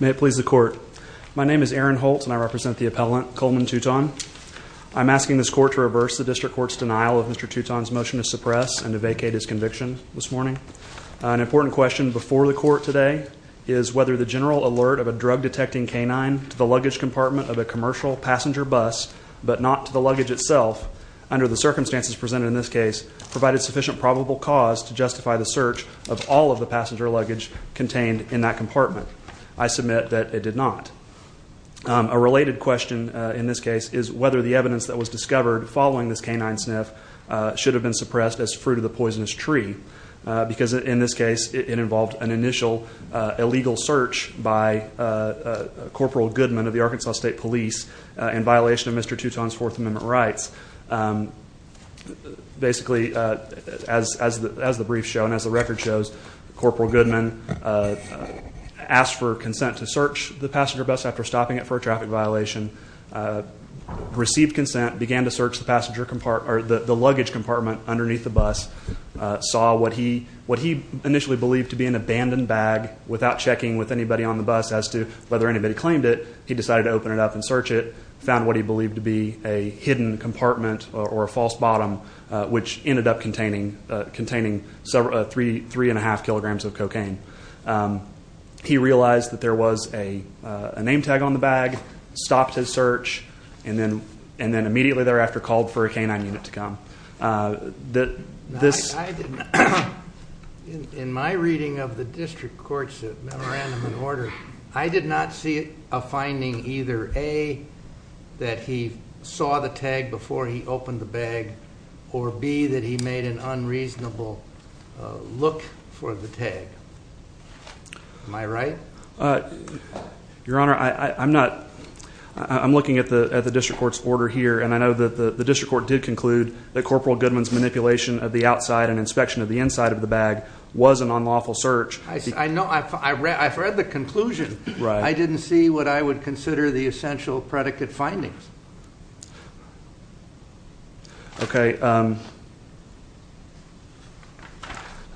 May it please the court. My name is Aaron Holt and I represent the appellant, Coleman Tuton. I'm asking this court to reverse the district court's denial of Mr. Tuton's motion to suppress and to vacate his conviction this morning. An important question before the court today is whether the general alert of a drug-detecting canine to the luggage compartment of a commercial passenger bus but not to the luggage itself, under the circumstances presented in this case, provided sufficient probable cause to justify the search of all of the passenger luggage contained in that compartment. I submit that it did not. A related question in this case is whether the evidence that was discovered following this canine sniff should have been suppressed as fruit of the poisonous tree because in this case it involved an initial illegal search by Corporal Goodman of the Arkansas State Police in violation of Mr. Tuton's Fourth Amendment rights. Basically, as the briefs show and as the record shows, Corporal Goodman asked for consent to search the passenger bus after stopping it for a traffic violation, received consent, began to search the luggage compartment underneath the bus, saw what he initially believed to be an abandoned bag without checking with anybody on the bus as to whether anybody claimed it, he decided to open it up and search it, found what he believed to be a hidden compartment or a false bottom, which ended up containing three and a half kilograms of cocaine. He realized that there was a name tag on the bag, stopped his search, and then immediately thereafter called for a canine unit to come. In my reading of the district court's memorandum and order, I did not see a finding either A, that he saw the tag before he opened the bag, or B, that he made an unreasonable look for the tag. Am I right? Your Honor, I'm looking at the district court's order here, and I know that the district court did conclude that Corporal Goodman's manipulation of the outside and inspection of the inside of the bag was an unlawful search. I know. I've read the conclusion. I didn't see what I would consider the essential predicate findings. Okay.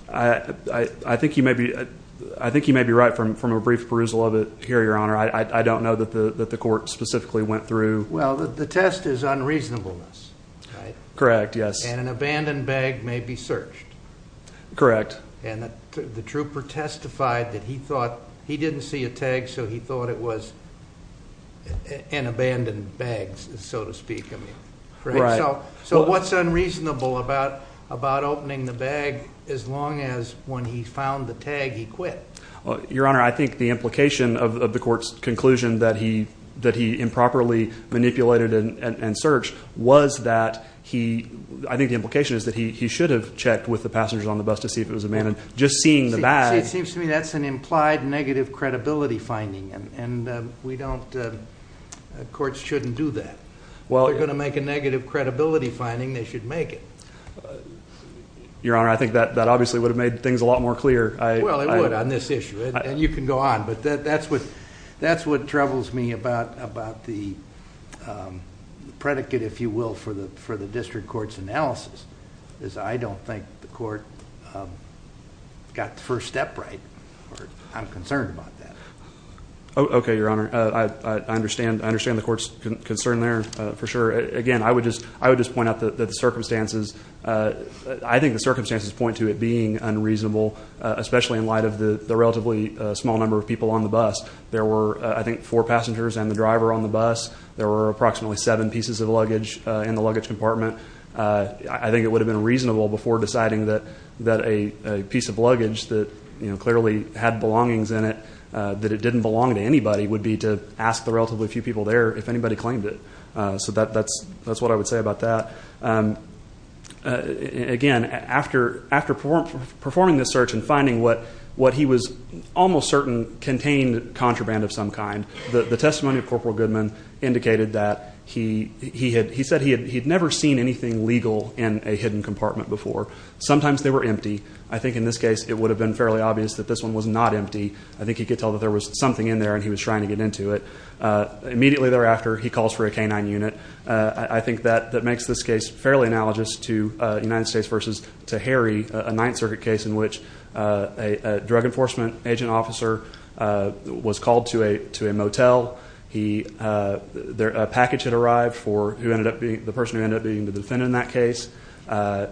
I think you may be right from a brief perusal of it here, Your Honor. I don't know that the court specifically went through. Well, the test is unreasonableness. Correct. Yes. And an abandoned bag may be searched. Correct. And the trooper testified that he thought he didn't see a tag, so he thought it was an abandoned bag, so to speak. Right. So what's unreasonable about opening the bag as long as when he found the tag, he quit? Your Honor, I think the implication of the court's conclusion that he improperly manipulated and searched was that he – I think the implication is that he should have checked with the passengers on the bus to see if it was abandoned. Just seeing the bag – See, it seems to me that's an implied negative credibility finding, and we don't – courts shouldn't do that. Well – If they're going to make a negative credibility finding, they should make it. Your Honor, I think that obviously would have made things a lot more clear. Well, it would on this issue, and you can go on. But that's what troubles me about the predicate, if you will, for the district court's analysis, is I don't think the court got the first step right. I'm concerned about that. Okay, Your Honor. I understand the court's concern there, for sure. Again, I would just point out that the circumstances – I think the circumstances point to it being unreasonable, especially in light of the relatively small number of people on the bus. There were, I think, four passengers and the driver on the bus. There were approximately seven pieces of luggage in the luggage compartment. I think it would have been reasonable before deciding that a piece of luggage that clearly had belongings in it, that it didn't belong to anybody, would be to ask the relatively few people there if anybody claimed it. So that's what I would say about that. Again, after performing this search and finding what he was almost certain contained contraband of some kind, the testimony of Corporal Goodman indicated that he said he had never seen anything legal in a hidden compartment before. Sometimes they were empty. I think in this case it would have been fairly obvious that this one was not empty. I think he could tell that there was something in there and he was trying to get into it. Immediately thereafter, he calls for a canine unit. I think that makes this case fairly analogous to United States v. Tahiri, a Ninth Circuit case in which a drug enforcement agent officer was called to a motel. A package had arrived for the person who ended up being the defendant in that case.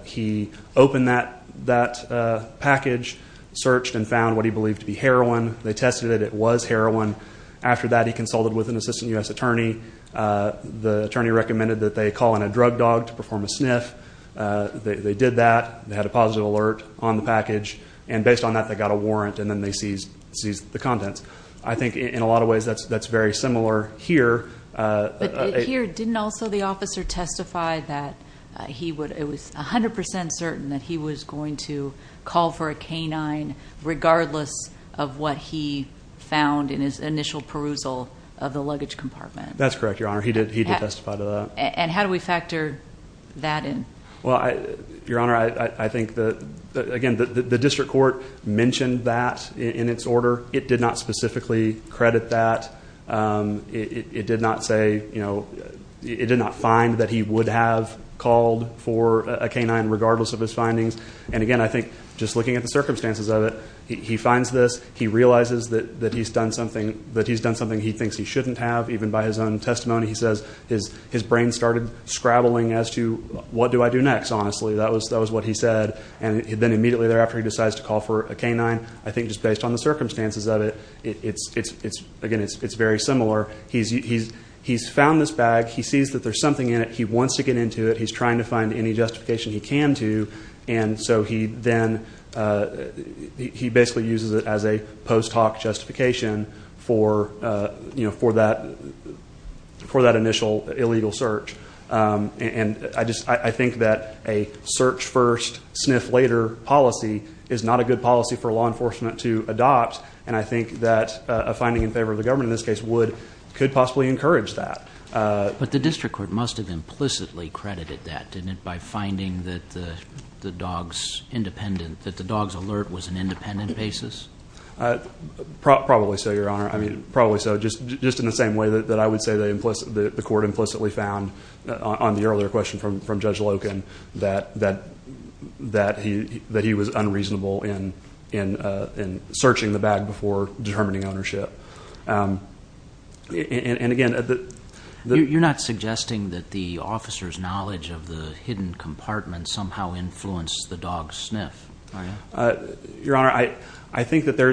He opened that package, searched, and found what he believed to be heroin. They tested it. It was heroin. After that, he consulted with an assistant U.S. attorney. The attorney recommended that they call in a drug dog to perform a sniff. They did that. They had a positive alert on the package. And based on that, they got a warrant, and then they seized the contents. I think in a lot of ways that's very similar here. But here, didn't also the officer testify that he was 100% certain that he was going to call for a canine regardless of what he found in his initial perusal of the luggage compartment? That's correct, Your Honor. He did testify to that. And how do we factor that in? Well, Your Honor, I think that, again, the district court mentioned that in its order. It did not specifically credit that. It did not say, you know, it did not find that he would have called for a canine regardless of his findings. And, again, I think just looking at the circumstances of it, he finds this. He realizes that he's done something he thinks he shouldn't have, even by his own testimony. He says his brain started scrabbling as to what do I do next, honestly. That was what he said. And then immediately thereafter, he decides to call for a canine. I think just based on the circumstances of it, again, it's very similar. He's found this bag. He sees that there's something in it. He wants to get into it. He's trying to find any justification he can to. And so he then basically uses it as a post hoc justification for that initial illegal search. And I think that a search first, sniff later policy is not a good policy for law enforcement to adopt. And I think that a finding in favor of the government in this case could possibly encourage that. But the district court must have implicitly credited that, didn't it, by finding that the dog's alert was an independent basis? Probably so, Your Honor. I mean, probably so. Just in the same way that I would say the court implicitly found on the earlier question from Judge Loken that he was unreasonable in searching the bag before determining ownership. And, again, the... You're not suggesting that the officer's knowledge of the hidden compartment somehow influenced the dog's sniff, are you? Your Honor, I think that there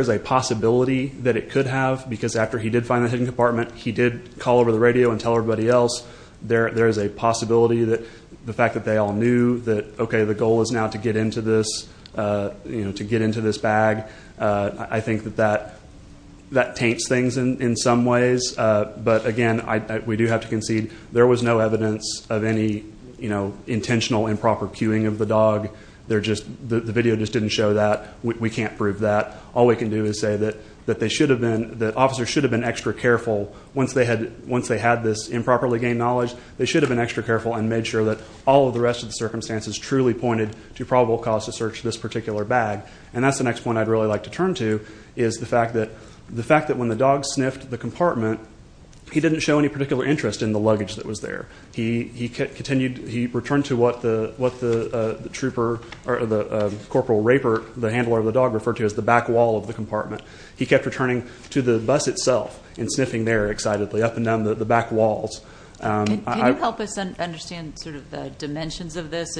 is a possibility that it could have. Because after he did find the hidden compartment, he did call over the radio and tell everybody else. There is a possibility that the fact that they all knew that, okay, the goal is now to get into this bag. I think that that taints things in some ways. But, again, we do have to concede there was no evidence of any intentional improper cueing of the dog. The video just didn't show that. We can't prove that. All we can do is say that officers should have been extra careful once they had this improperly gained knowledge. They should have been extra careful and made sure that all of the rest of the circumstances truly pointed to probable cause to search this particular bag. And that's the next point I'd really like to turn to, is the fact that when the dog sniffed the compartment, he didn't show any particular interest in the luggage that was there. He returned to what the trooper, or the Corporal Raper, the handler of the dog, referred to as the back wall of the compartment. He kept returning to the bus itself and sniffing there excitedly, up and down the back walls. Can you help us understand sort of the dimensions of this?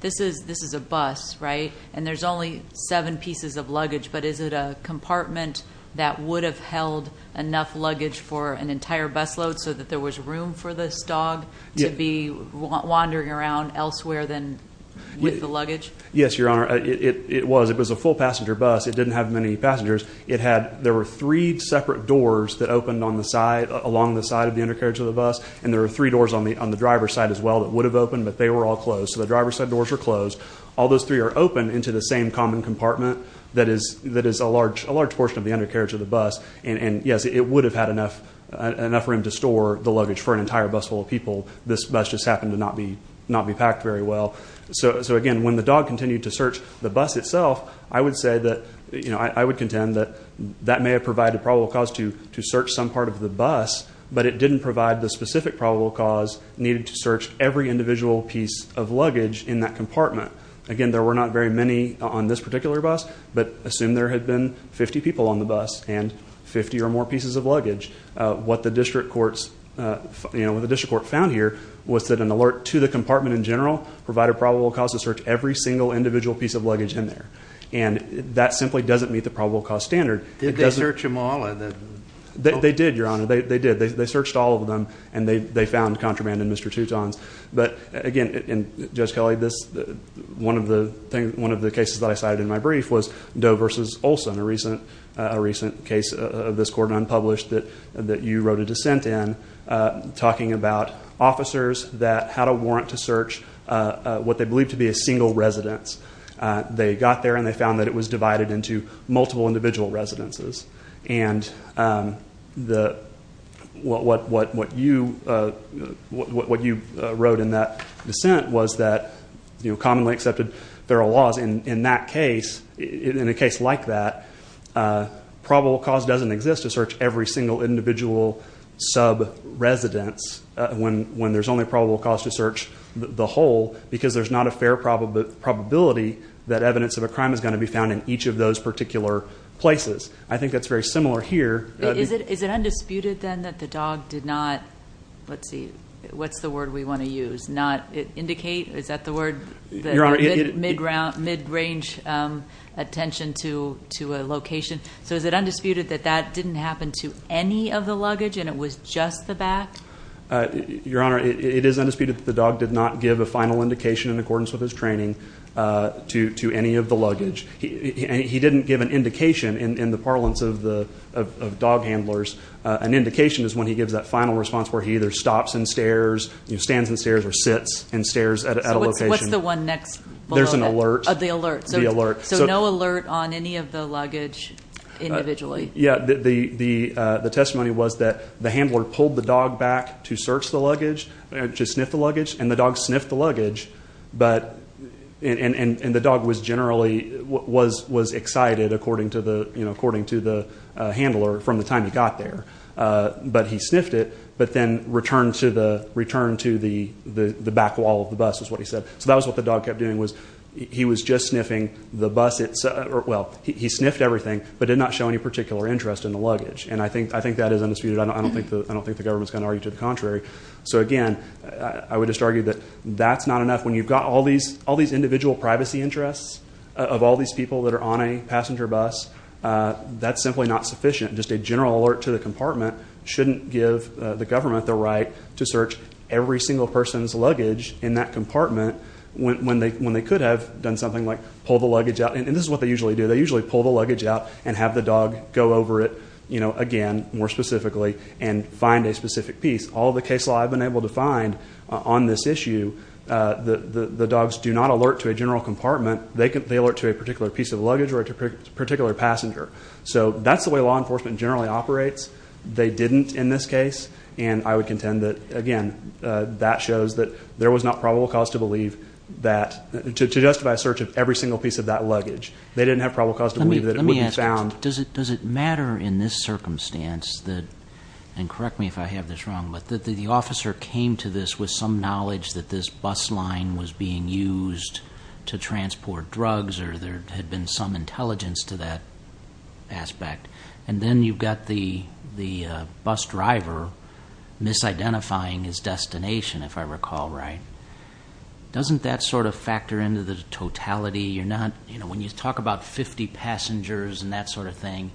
This is a bus, right? And there's only seven pieces of luggage. But is it a compartment that would have held enough luggage for an entire busload so that there was room for this dog to be wandering around elsewhere than with the luggage? Yes, Your Honor. It was. It was a full passenger bus. It didn't have many passengers. There were three separate doors that opened on the side, along the side of the undercarriage of the bus. And there were three doors on the driver's side as well that would have opened, but they were all closed. So the driver's side doors were closed. All those three are open into the same common compartment that is a large portion of the undercarriage of the bus. And, yes, it would have had enough room to store the luggage for an entire busload of people. This bus just happened to not be packed very well. So, again, when the dog continued to search the bus itself, I would say that, you know, I would contend that that may have provided a probable cause to search some part of the bus, but it didn't provide the specific probable cause needed to search every individual piece of luggage in that compartment. Again, there were not very many on this particular bus, but assume there had been 50 people on the bus and 50 or more pieces of luggage. What the district court found here was that an alert to the compartment in general provided probable cause to search every single individual piece of luggage in there. And that simply doesn't meet the probable cause standard. Did they search them all? They did, Your Honor. They did. They searched all of them, and they found contraband in Mr. Tuton's. But, again, Judge Kelly, one of the cases that I cited in my brief was Doe v. Olson, a recent case of this court, unpublished, that you wrote a dissent in, talking about officers that had a warrant to search what they believed to be a single residence. They got there, and they found that it was divided into multiple individual residences. And what you wrote in that dissent was that, you know, commonly accepted feral laws in that case, in a case like that, probable cause doesn't exist to search every single individual sub-residence when there's only probable cause to search the whole because there's not a fair probability that evidence of a crime is going to be found in each of those particular places. I think that's very similar here. Is it undisputed, then, that the dog did not, let's see, what's the word we want to use, not indicate? Is that the word, mid-range attention to a location? So is it undisputed that that didn't happen to any of the luggage, and it was just the back? Your Honor, it is undisputed that the dog did not give a final indication in accordance with his training to any of the luggage. He didn't give an indication in the parlance of dog handlers. An indication is when he gives that final response where he either stops and stares, stands and stares, or sits and stares at a location. So what's the one next below that? There's an alert. The alert. So no alert on any of the luggage individually? Yeah. The testimony was that the handler pulled the dog back to search the luggage, to sniff the luggage, and the dog sniffed the luggage, and the dog was generally, was excited, according to the handler, from the time he got there. But he sniffed it, but then returned to the back wall of the bus, is what he said. So that was what the dog kept doing, was he was just sniffing the bus itself. Well, he sniffed everything but did not show any particular interest in the luggage, and I think that is undisputed. I don't think the government is going to argue to the contrary. So, again, I would just argue that that's not enough. When you've got all these individual privacy interests of all these people that are on a passenger bus, that's simply not sufficient. Just a general alert to the compartment shouldn't give the government the right to search every single person's luggage in that compartment when they could have done something like pull the luggage out. And this is what they usually do. They usually pull the luggage out and have the dog go over it again, more specifically, and find a specific piece. All the case law I've been able to find on this issue, the dogs do not alert to a general compartment. They alert to a particular piece of luggage or a particular passenger. So that's the way law enforcement generally operates. They didn't in this case, and I would contend that, again, that shows that there was not probable cause to believe that to justify a search of every single piece of that luggage. They didn't have probable cause to believe that it would be found. Let me ask you this. Does it matter in this circumstance that, and correct me if I have this wrong, but that the officer came to this with some knowledge that this bus line was being used to transport drugs or there had been some intelligence to that aspect? And then you've got the bus driver misidentifying his destination, if I recall right. Doesn't that sort of factor into the totality? When you talk about 50 passengers and that sort of thing,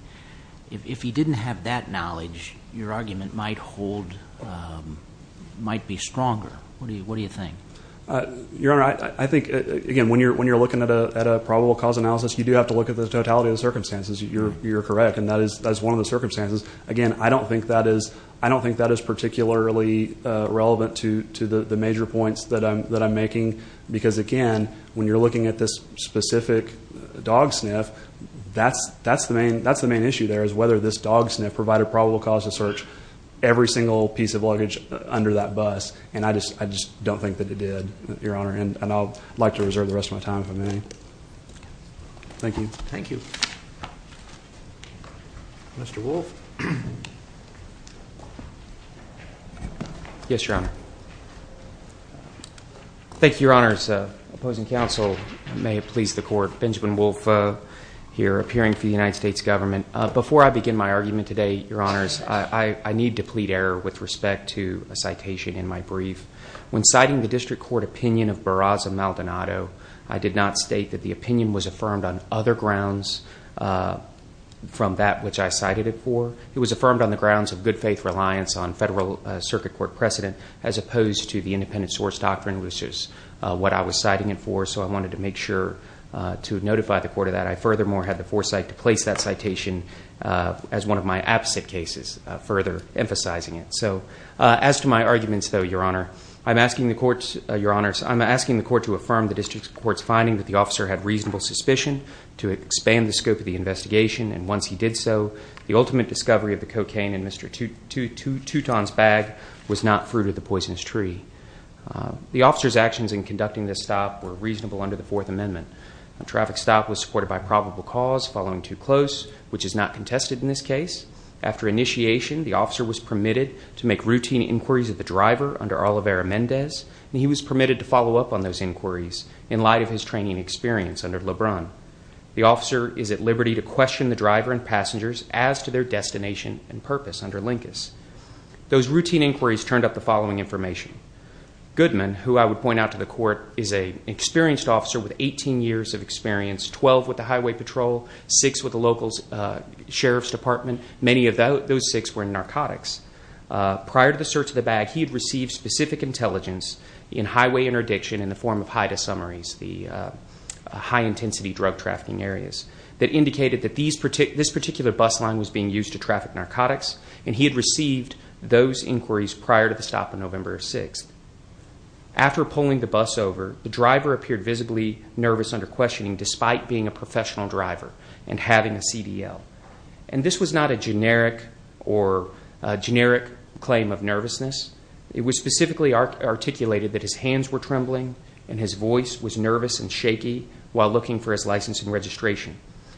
if he didn't have that knowledge, your argument might be stronger. What do you think? Your Honor, I think, again, when you're looking at a probable cause analysis, you do have to look at the totality of the circumstances. You're correct, and that is one of the circumstances. Again, I don't think that is particularly relevant to the major points that I'm making, because, again, when you're looking at this specific dog sniff, that's the main issue there is whether this dog sniff provided probable cause to search every single piece of luggage under that bus. And I just don't think that it did, Your Honor. And I'd like to reserve the rest of my time, if I may. Thank you. Thank you. Mr. Wolfe. Yes, Your Honor. Thank you, Your Honors. Opposing counsel, may it please the Court. Benjamin Wolfe here, appearing for the United States Government. Before I begin my argument today, Your Honors, I need to plead error with respect to a citation in my brief. When citing the district court opinion of Barraza Maldonado, I did not state that the opinion was affirmed on other grounds from that which I cited it for. It was affirmed on the grounds of good faith reliance on federal circuit court precedent as opposed to the independent source doctrine, which is what I was citing it for, so I wanted to make sure to notify the court of that. I furthermore had the foresight to place that citation as one of my absent cases, further emphasizing it. As to my arguments, though, Your Honor, I'm asking the court to affirm the district court's finding that the officer had reasonable suspicion to expand the scope of the investigation, and once he did so, the ultimate discovery of the cocaine in Mr. Touton's bag was not fruit of the poisonous tree. The officer's actions in conducting this stop were reasonable under the Fourth Amendment. A traffic stop was supported by probable cause following too close, which is not contested in this case. After initiation, the officer was permitted to make routine inquiries of the driver under Olivera Mendez, and he was permitted to follow up on those inquiries in light of his training experience under LeBron. The officer is at liberty to question the driver and passengers as to their destination and purpose under Lincas. Those routine inquiries turned up the following information. Goodman, who I would point out to the court, is an experienced officer with 18 years of experience, 12 with the highway patrol, 6 with the local sheriff's department. Many of those 6 were in narcotics. Prior to the search of the bag, he had received specific intelligence in highway interdiction in the form of HIDTA summaries, the high-intensity drug trafficking areas, that indicated that this particular bus line was being used to traffic narcotics, and he had received those inquiries prior to the stop on November 6th. After pulling the bus over, the driver appeared visibly nervous under questioning, despite being a professional driver and having a CDL. And this was not a generic claim of nervousness. It was specifically articulated that his hands were trembling and his voice was nervous and shaky while looking for his license and registration.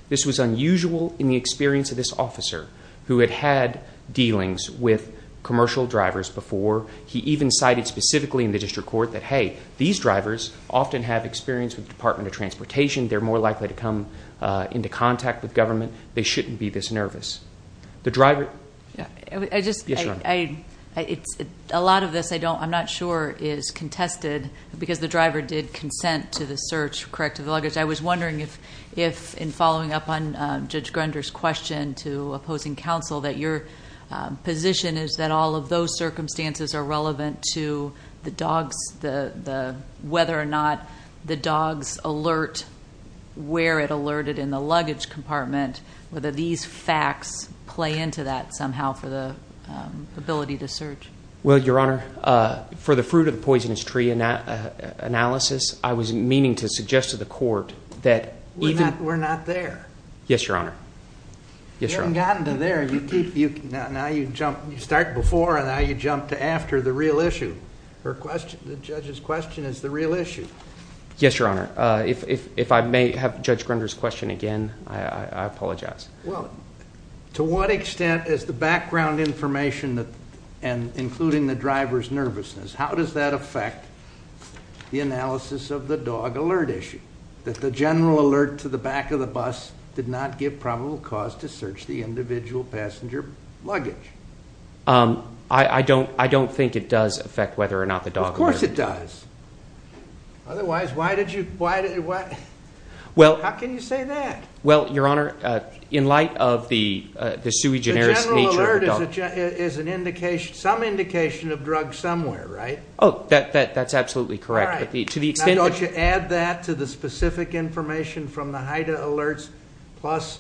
This was unusual in the experience of this officer, who had had dealings with commercial drivers before. He even cited specifically in the district court that, hey, these drivers often have experience with the Department of Transportation. They're more likely to come into contact with government. They shouldn't be this nervous. A lot of this, I'm not sure, is contested because the driver did consent to the search, correct to the luggage. I was wondering if, in following up on Judge Grunder's question to opposing counsel, that your position is that all of those circumstances are relevant to the dogs, whether or not the dogs alert where it alerted in the luggage compartment, whether these facts play into that somehow for the ability to search. Well, Your Honor, for the fruit of the poisonous tree analysis, I was meaning to suggest to the court that even – We're not there. Yes, Your Honor. You haven't gotten to there. Now you start before and now you jump to after the real issue. The judge's question is the real issue. Yes, Your Honor. If I may have Judge Grunder's question again, I apologize. Well, to what extent is the background information, including the driver's nervousness, how does that affect the analysis of the dog alert issue, that the general alert to the back of the bus did not give probable cause to search the individual passenger luggage? I don't think it does affect whether or not the dog alert. Of course it does. Otherwise, why did you – how can you say that? Well, Your Honor, in light of the sui generis nature of the dog – The general alert is some indication of drugs somewhere, right? That's absolutely correct. All right. Now don't you add that to the specific information from the Haida alerts plus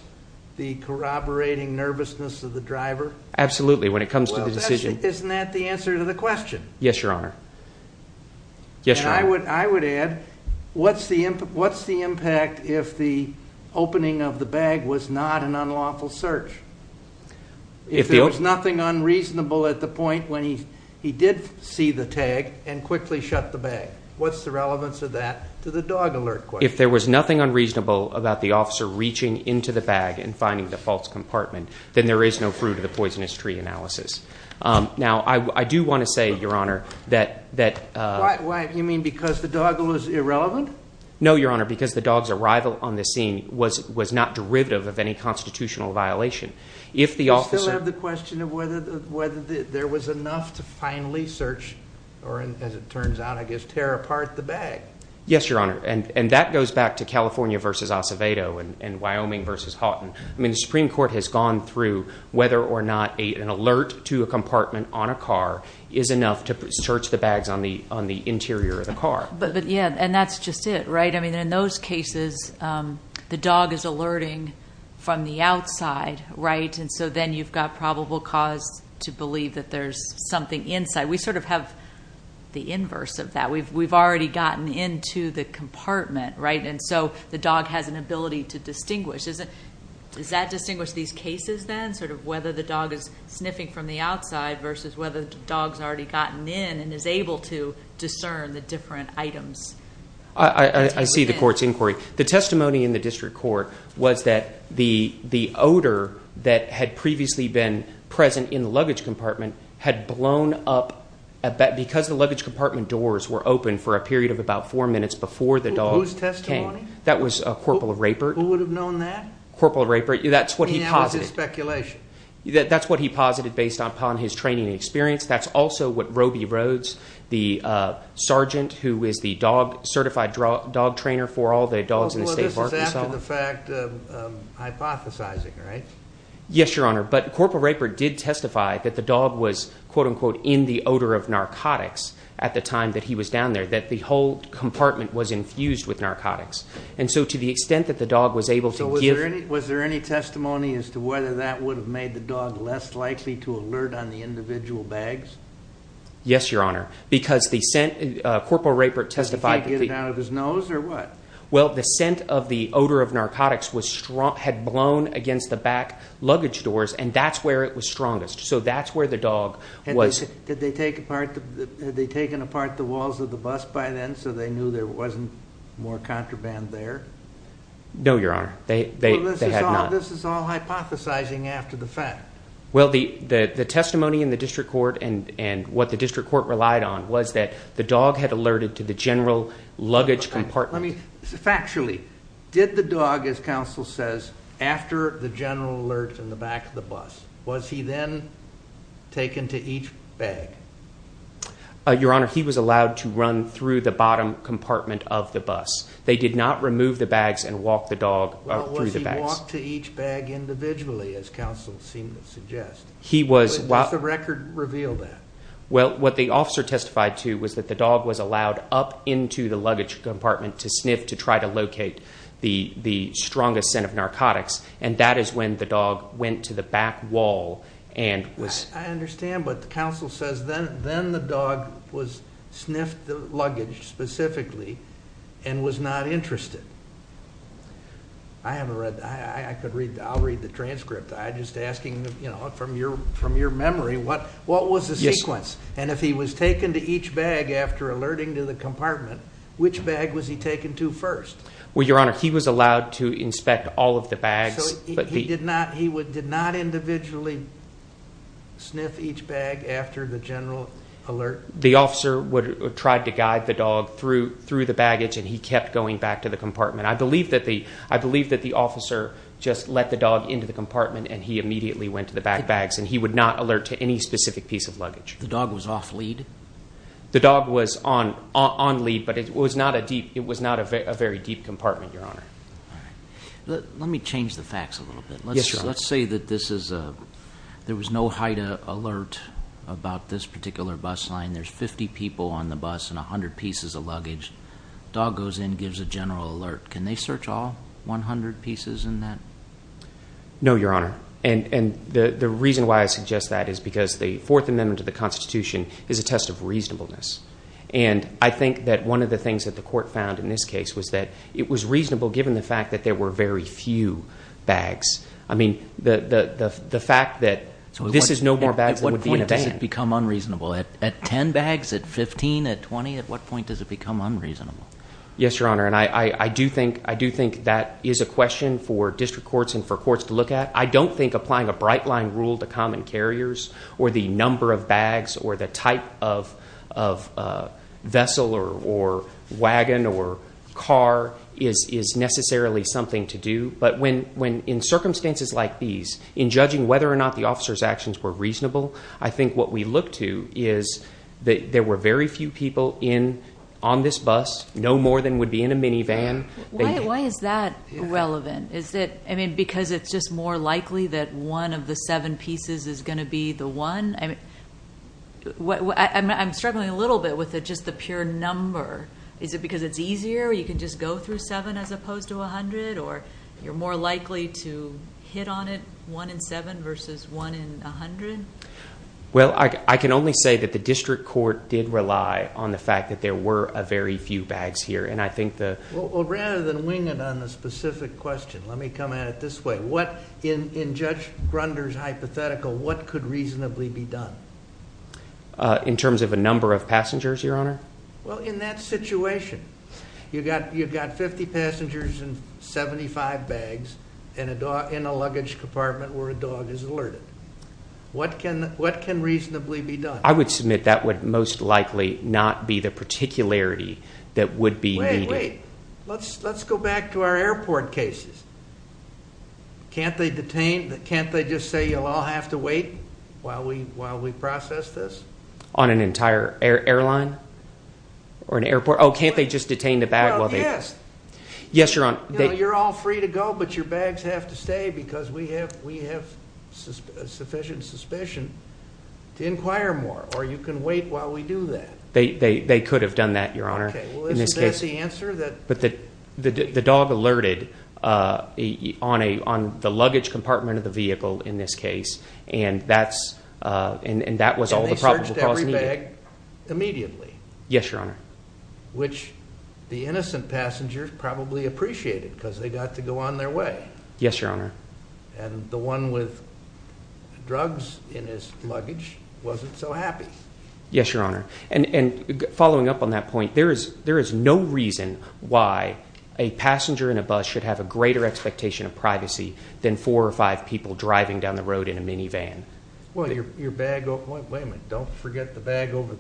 the corroborating nervousness of the driver? Absolutely, when it comes to the decision. Well, isn't that the answer to the question? Yes, Your Honor. I would add, what's the impact if the opening of the bag was not an unlawful search? If there was nothing unreasonable at the point when he did see the tag and quickly shut the bag, what's the relevance of that to the dog alert question? If there was nothing unreasonable about the officer reaching into the bag and finding the false compartment, then there is no fruit of the poisonous tree analysis. Now, I do want to say, Your Honor, that – Why? You mean because the dog alert is irrelevant? No, Your Honor, because the dog's arrival on the scene was not derivative of any constitutional violation. You still have the question of whether there was enough to finally search or, as it turns out, I guess, tear apart the bag. Yes, Your Honor, and that goes back to California versus Acevedo and Wyoming versus Houghton. I mean the Supreme Court has gone through whether or not an alert to a compartment on a car is enough to search the bags on the interior of the car. Yeah, and that's just it, right? I mean, in those cases, the dog is alerting from the outside, right? And so then you've got probable cause to believe that there's something inside. We sort of have the inverse of that. We've already gotten into the compartment, right? And so the dog has an ability to distinguish. Does that distinguish these cases then, sort of whether the dog is sniffing from the outside versus whether the dog's already gotten in and is able to discern the different items? I see the court's inquiry. The testimony in the district court was that the odor that had previously been present in the luggage compartment had blown up because the luggage compartment doors were open for a period of about four minutes before the dog came. Whose testimony? That was Corporal Rapert. Who would have known that? Corporal Rapert. That's what he posited. And that was his speculation. That's what he posited based upon his training and experience. That's also what Roby Rhodes, the sergeant who is the certified dog trainer for all the dogs in the state of Arkansas. Well, this is after the fact hypothesizing, right? Yes, Your Honor. But Corporal Rapert did testify that the dog was, quote, unquote, in the odor of narcotics at the time that he was down there, that the whole compartment was infused with narcotics. And so to the extent that the dog was able to give – Yes, Your Honor. Because the scent – Corporal Rapert testified – Did he get it out of his nose or what? Well, the scent of the odor of narcotics had blown against the back luggage doors, and that's where it was strongest. So that's where the dog was – Had they taken apart the walls of the bus by then so they knew there wasn't more contraband there? No, Your Honor. They had not. Well, this is all hypothesizing after the fact. Well, the testimony in the district court and what the district court relied on was that the dog had alerted to the general luggage compartment. Factually, did the dog, as counsel says, after the general alert in the back of the bus, was he then taken to each bag? Your Honor, he was allowed to run through the bottom compartment of the bus. They did not remove the bags and walk the dog through the bags. They walked to each bag individually, as counsel seemed to suggest. Does the record reveal that? Well, what the officer testified to was that the dog was allowed up into the luggage compartment to sniff to try to locate the strongest scent of narcotics, and that is when the dog went to the back wall and was – I understand, but the counsel says then the dog sniffed the luggage specifically and was not interested. I haven't read that. I'll read the transcript. I'm just asking from your memory, what was the sequence? And if he was taken to each bag after alerting to the compartment, which bag was he taken to first? Well, Your Honor, he was allowed to inspect all of the bags. So he did not individually sniff each bag after the general alert? The officer tried to guide the dog through the baggage, and he kept going back to the compartment. I believe that the officer just let the dog into the compartment and he immediately went to the back bags, and he would not alert to any specific piece of luggage. The dog was off lead? The dog was on lead, but it was not a very deep compartment, Your Honor. All right. Let me change the facts a little bit. Yes, Your Honor. Let's say that there was no HIDA alert about this particular bus line. There's 50 people on the bus and 100 pieces of luggage. Dog goes in, gives a general alert. Can they search all 100 pieces in that? No, Your Honor. And the reason why I suggest that is because the Fourth Amendment to the Constitution is a test of reasonableness. And I think that one of the things that the court found in this case was that it was reasonable given the fact that there were very few bags. I mean, the fact that this is no more bags than would be a van. At what point does it become unreasonable? At 10 bags, at 15, at 20? At what point does it become unreasonable? Yes, Your Honor, and I do think that is a question for district courts and for courts to look at. I don't think applying a bright line rule to common carriers or the number of bags or the type of vessel or wagon or car is necessarily something to do. But in circumstances like these, in judging whether or not the officer's actions were reasonable, I think what we look to is that there were very few people on this bus, no more than would be in a minivan. Why is that relevant? I mean, because it's just more likely that one of the seven pieces is going to be the one? I'm struggling a little bit with just the pure number. Is it because it's easier? You can just go through seven as opposed to 100? Or you're more likely to hit on it, one in seven versus one in 100? Well, I can only say that the district court did rely on the fact that there were a very few bags here, and I think the— Well, rather than wing it on the specific question, let me come at it this way. In Judge Grunder's hypothetical, what could reasonably be done? In terms of a number of passengers, Your Honor? Well, in that situation, you've got 50 passengers and 75 bags in a luggage compartment where a dog is alerted. What can reasonably be done? I would submit that would most likely not be the particularity that would be needed. Wait, wait. Let's go back to our airport cases. Can't they just say you'll all have to wait while we process this? On an entire airline or an airport? Oh, can't they just detain the bag while they— Well, yes. Yes, Your Honor. You're all free to go, but your bags have to stay because we have sufficient suspicion to inquire more, or you can wait while we do that. They could have done that, Your Honor. Okay. Well, isn't that the answer? But the dog alerted on the luggage compartment of the vehicle in this case, and that was all the probable cause needed. And they searched every bag immediately? Yes, Your Honor. Which the innocent passengers probably appreciated because they got to go on their way. Yes, Your Honor. And the one with drugs in his luggage wasn't so happy. Yes, Your Honor. And following up on that point, there is no reason why a passenger in a bus should have a greater expectation of privacy than four or five people driving down the road in a minivan. Wait a minute. Don't forget the bag over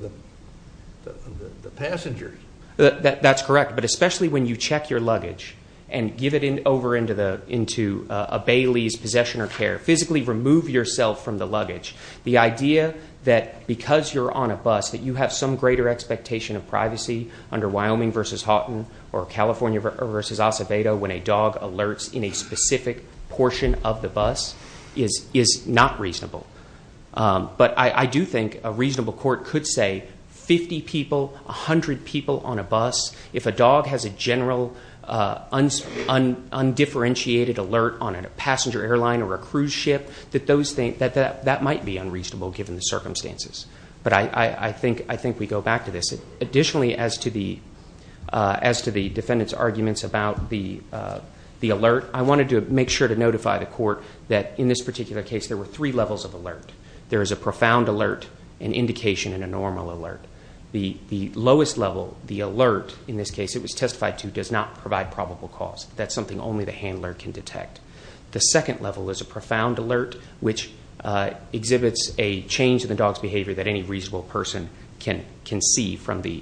the passengers. That's correct. But especially when you check your luggage and give it over into a Bailey's possession or care, physically remove yourself from the luggage, the idea that because you're on a bus that you have some greater expectation of privacy under Wyoming v. Houghton or California v. Acevedo when a dog alerts in a specific portion of the bus is not reasonable. But I do think a reasonable court could say 50 people, 100 people on a bus, if a dog has a general undifferentiated alert on a passenger airline or a cruise ship, that that might be unreasonable given the circumstances. But I think we go back to this. Additionally, as to the defendant's arguments about the alert, I wanted to make sure to notify the court that in this particular case there were three levels of alert. There is a profound alert, an indication, and a normal alert. The lowest level, the alert in this case it was testified to, does not provide probable cause. That's something only the handler can detect. The second level is a profound alert, which exhibits a change in the dog's behavior that any reasonable person can see from the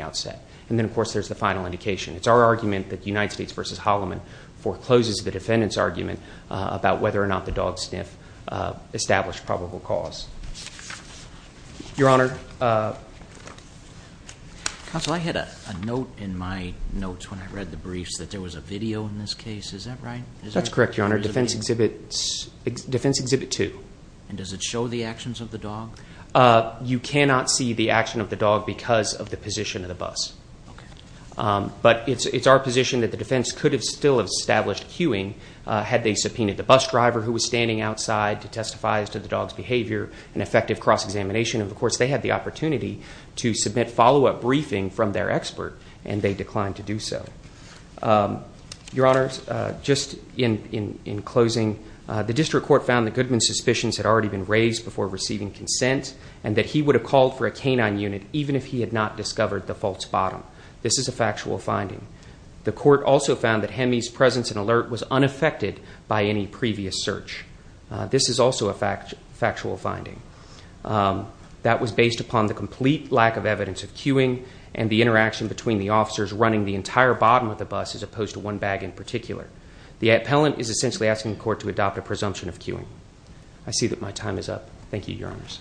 outset. And then, of course, there's the final indication. It's our argument that United States v. Holloman forecloses the defendant's argument about whether or not the dog sniff established probable cause. Your Honor. Counsel, I had a note in my notes when I read the briefs that there was a video in this case. Is that right? That's correct, Your Honor. Defense Exhibit 2. And does it show the actions of the dog? You cannot see the action of the dog because of the position of the bus. But it's our position that the defense could have still established cueing had they subpoenaed the bus driver who was standing outside to testify as to the dog's behavior, an effective cross-examination. And, of course, they had the opportunity to submit follow-up briefing from their expert, and they declined to do so. Your Honor, just in closing, the district court found that Goodman's suspicions had already been raised before receiving consent, and that he would have called for a canine unit even if he had not discovered the false bottom. This is a factual finding. The court also found that Hemi's presence and alert was unaffected by any previous search. This is also a factual finding. That was based upon the complete lack of evidence of cueing and the interaction between the officers running the entire bottom of the bus as opposed to one bag in particular. The appellant is essentially asking the court to adopt a presumption of cueing. I see that my time is up. Thank you, Your Honors.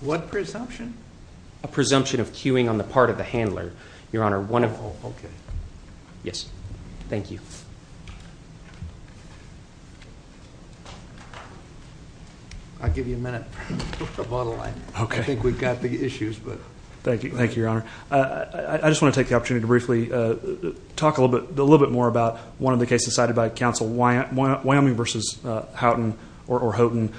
What presumption? A presumption of cueing on the part of the handler. Your Honor, one of... Oh, okay. Yes. Thank you. I'll give you a minute. I think we've got the issues, but... Thank you, Your Honor. I just want to take the opportunity to briefly talk a little bit more about one of the cases cited by counsel, Wyoming v. Houghton or Houghton.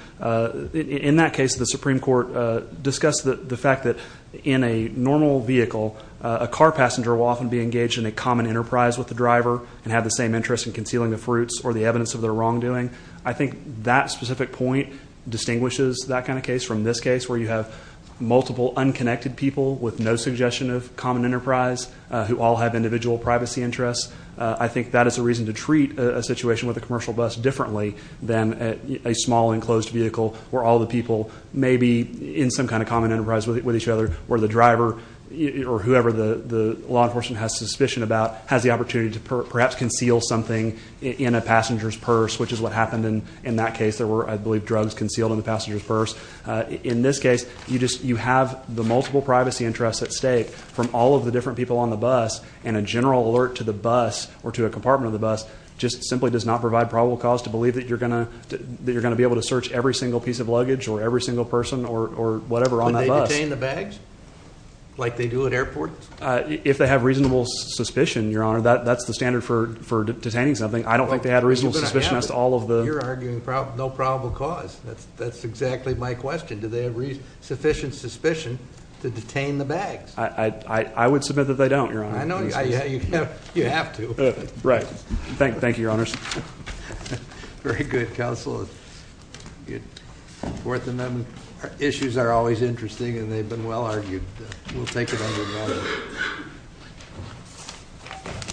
In that case, the Supreme Court discussed the fact that in a normal vehicle, a car passenger will often be engaged in a common enterprise with the driver and have the same interest in concealing the fruits or the evidence of their wrongdoing. I think that specific point distinguishes that kind of case from this case where you have multiple unconnected people with no suggestion of common enterprise who all have individual privacy interests. I think that is a reason to treat a situation with a commercial bus differently than a small enclosed vehicle where all the people may be in some kind of common enterprise with each other where the driver or whoever the law enforcement has suspicion about has the opportunity to perhaps conceal something in a passenger's purse, which is what happened in that case. There were, I believe, drugs concealed in the passenger's purse. In this case, you have the multiple privacy interests at stake from all of the different people on the bus, and a general alert to the bus or to a compartment of the bus just simply does not provide probable cause to believe that you're going to be able to search every single piece of luggage or every single person or whatever on that bus. Would they detain the bags like they do at airports? If they have reasonable suspicion, Your Honor, that's the standard for detaining something. I don't think they had reasonable suspicion as to all of the... You're arguing no probable cause. That's exactly my question. Do they have sufficient suspicion to detain the bags? I would submit that they don't, Your Honor. I know you have to. Right. Thank you, Your Honors. Very good, counsel. Fourth Amendment issues are always interesting, and they've been well-argued. We'll take it on with that.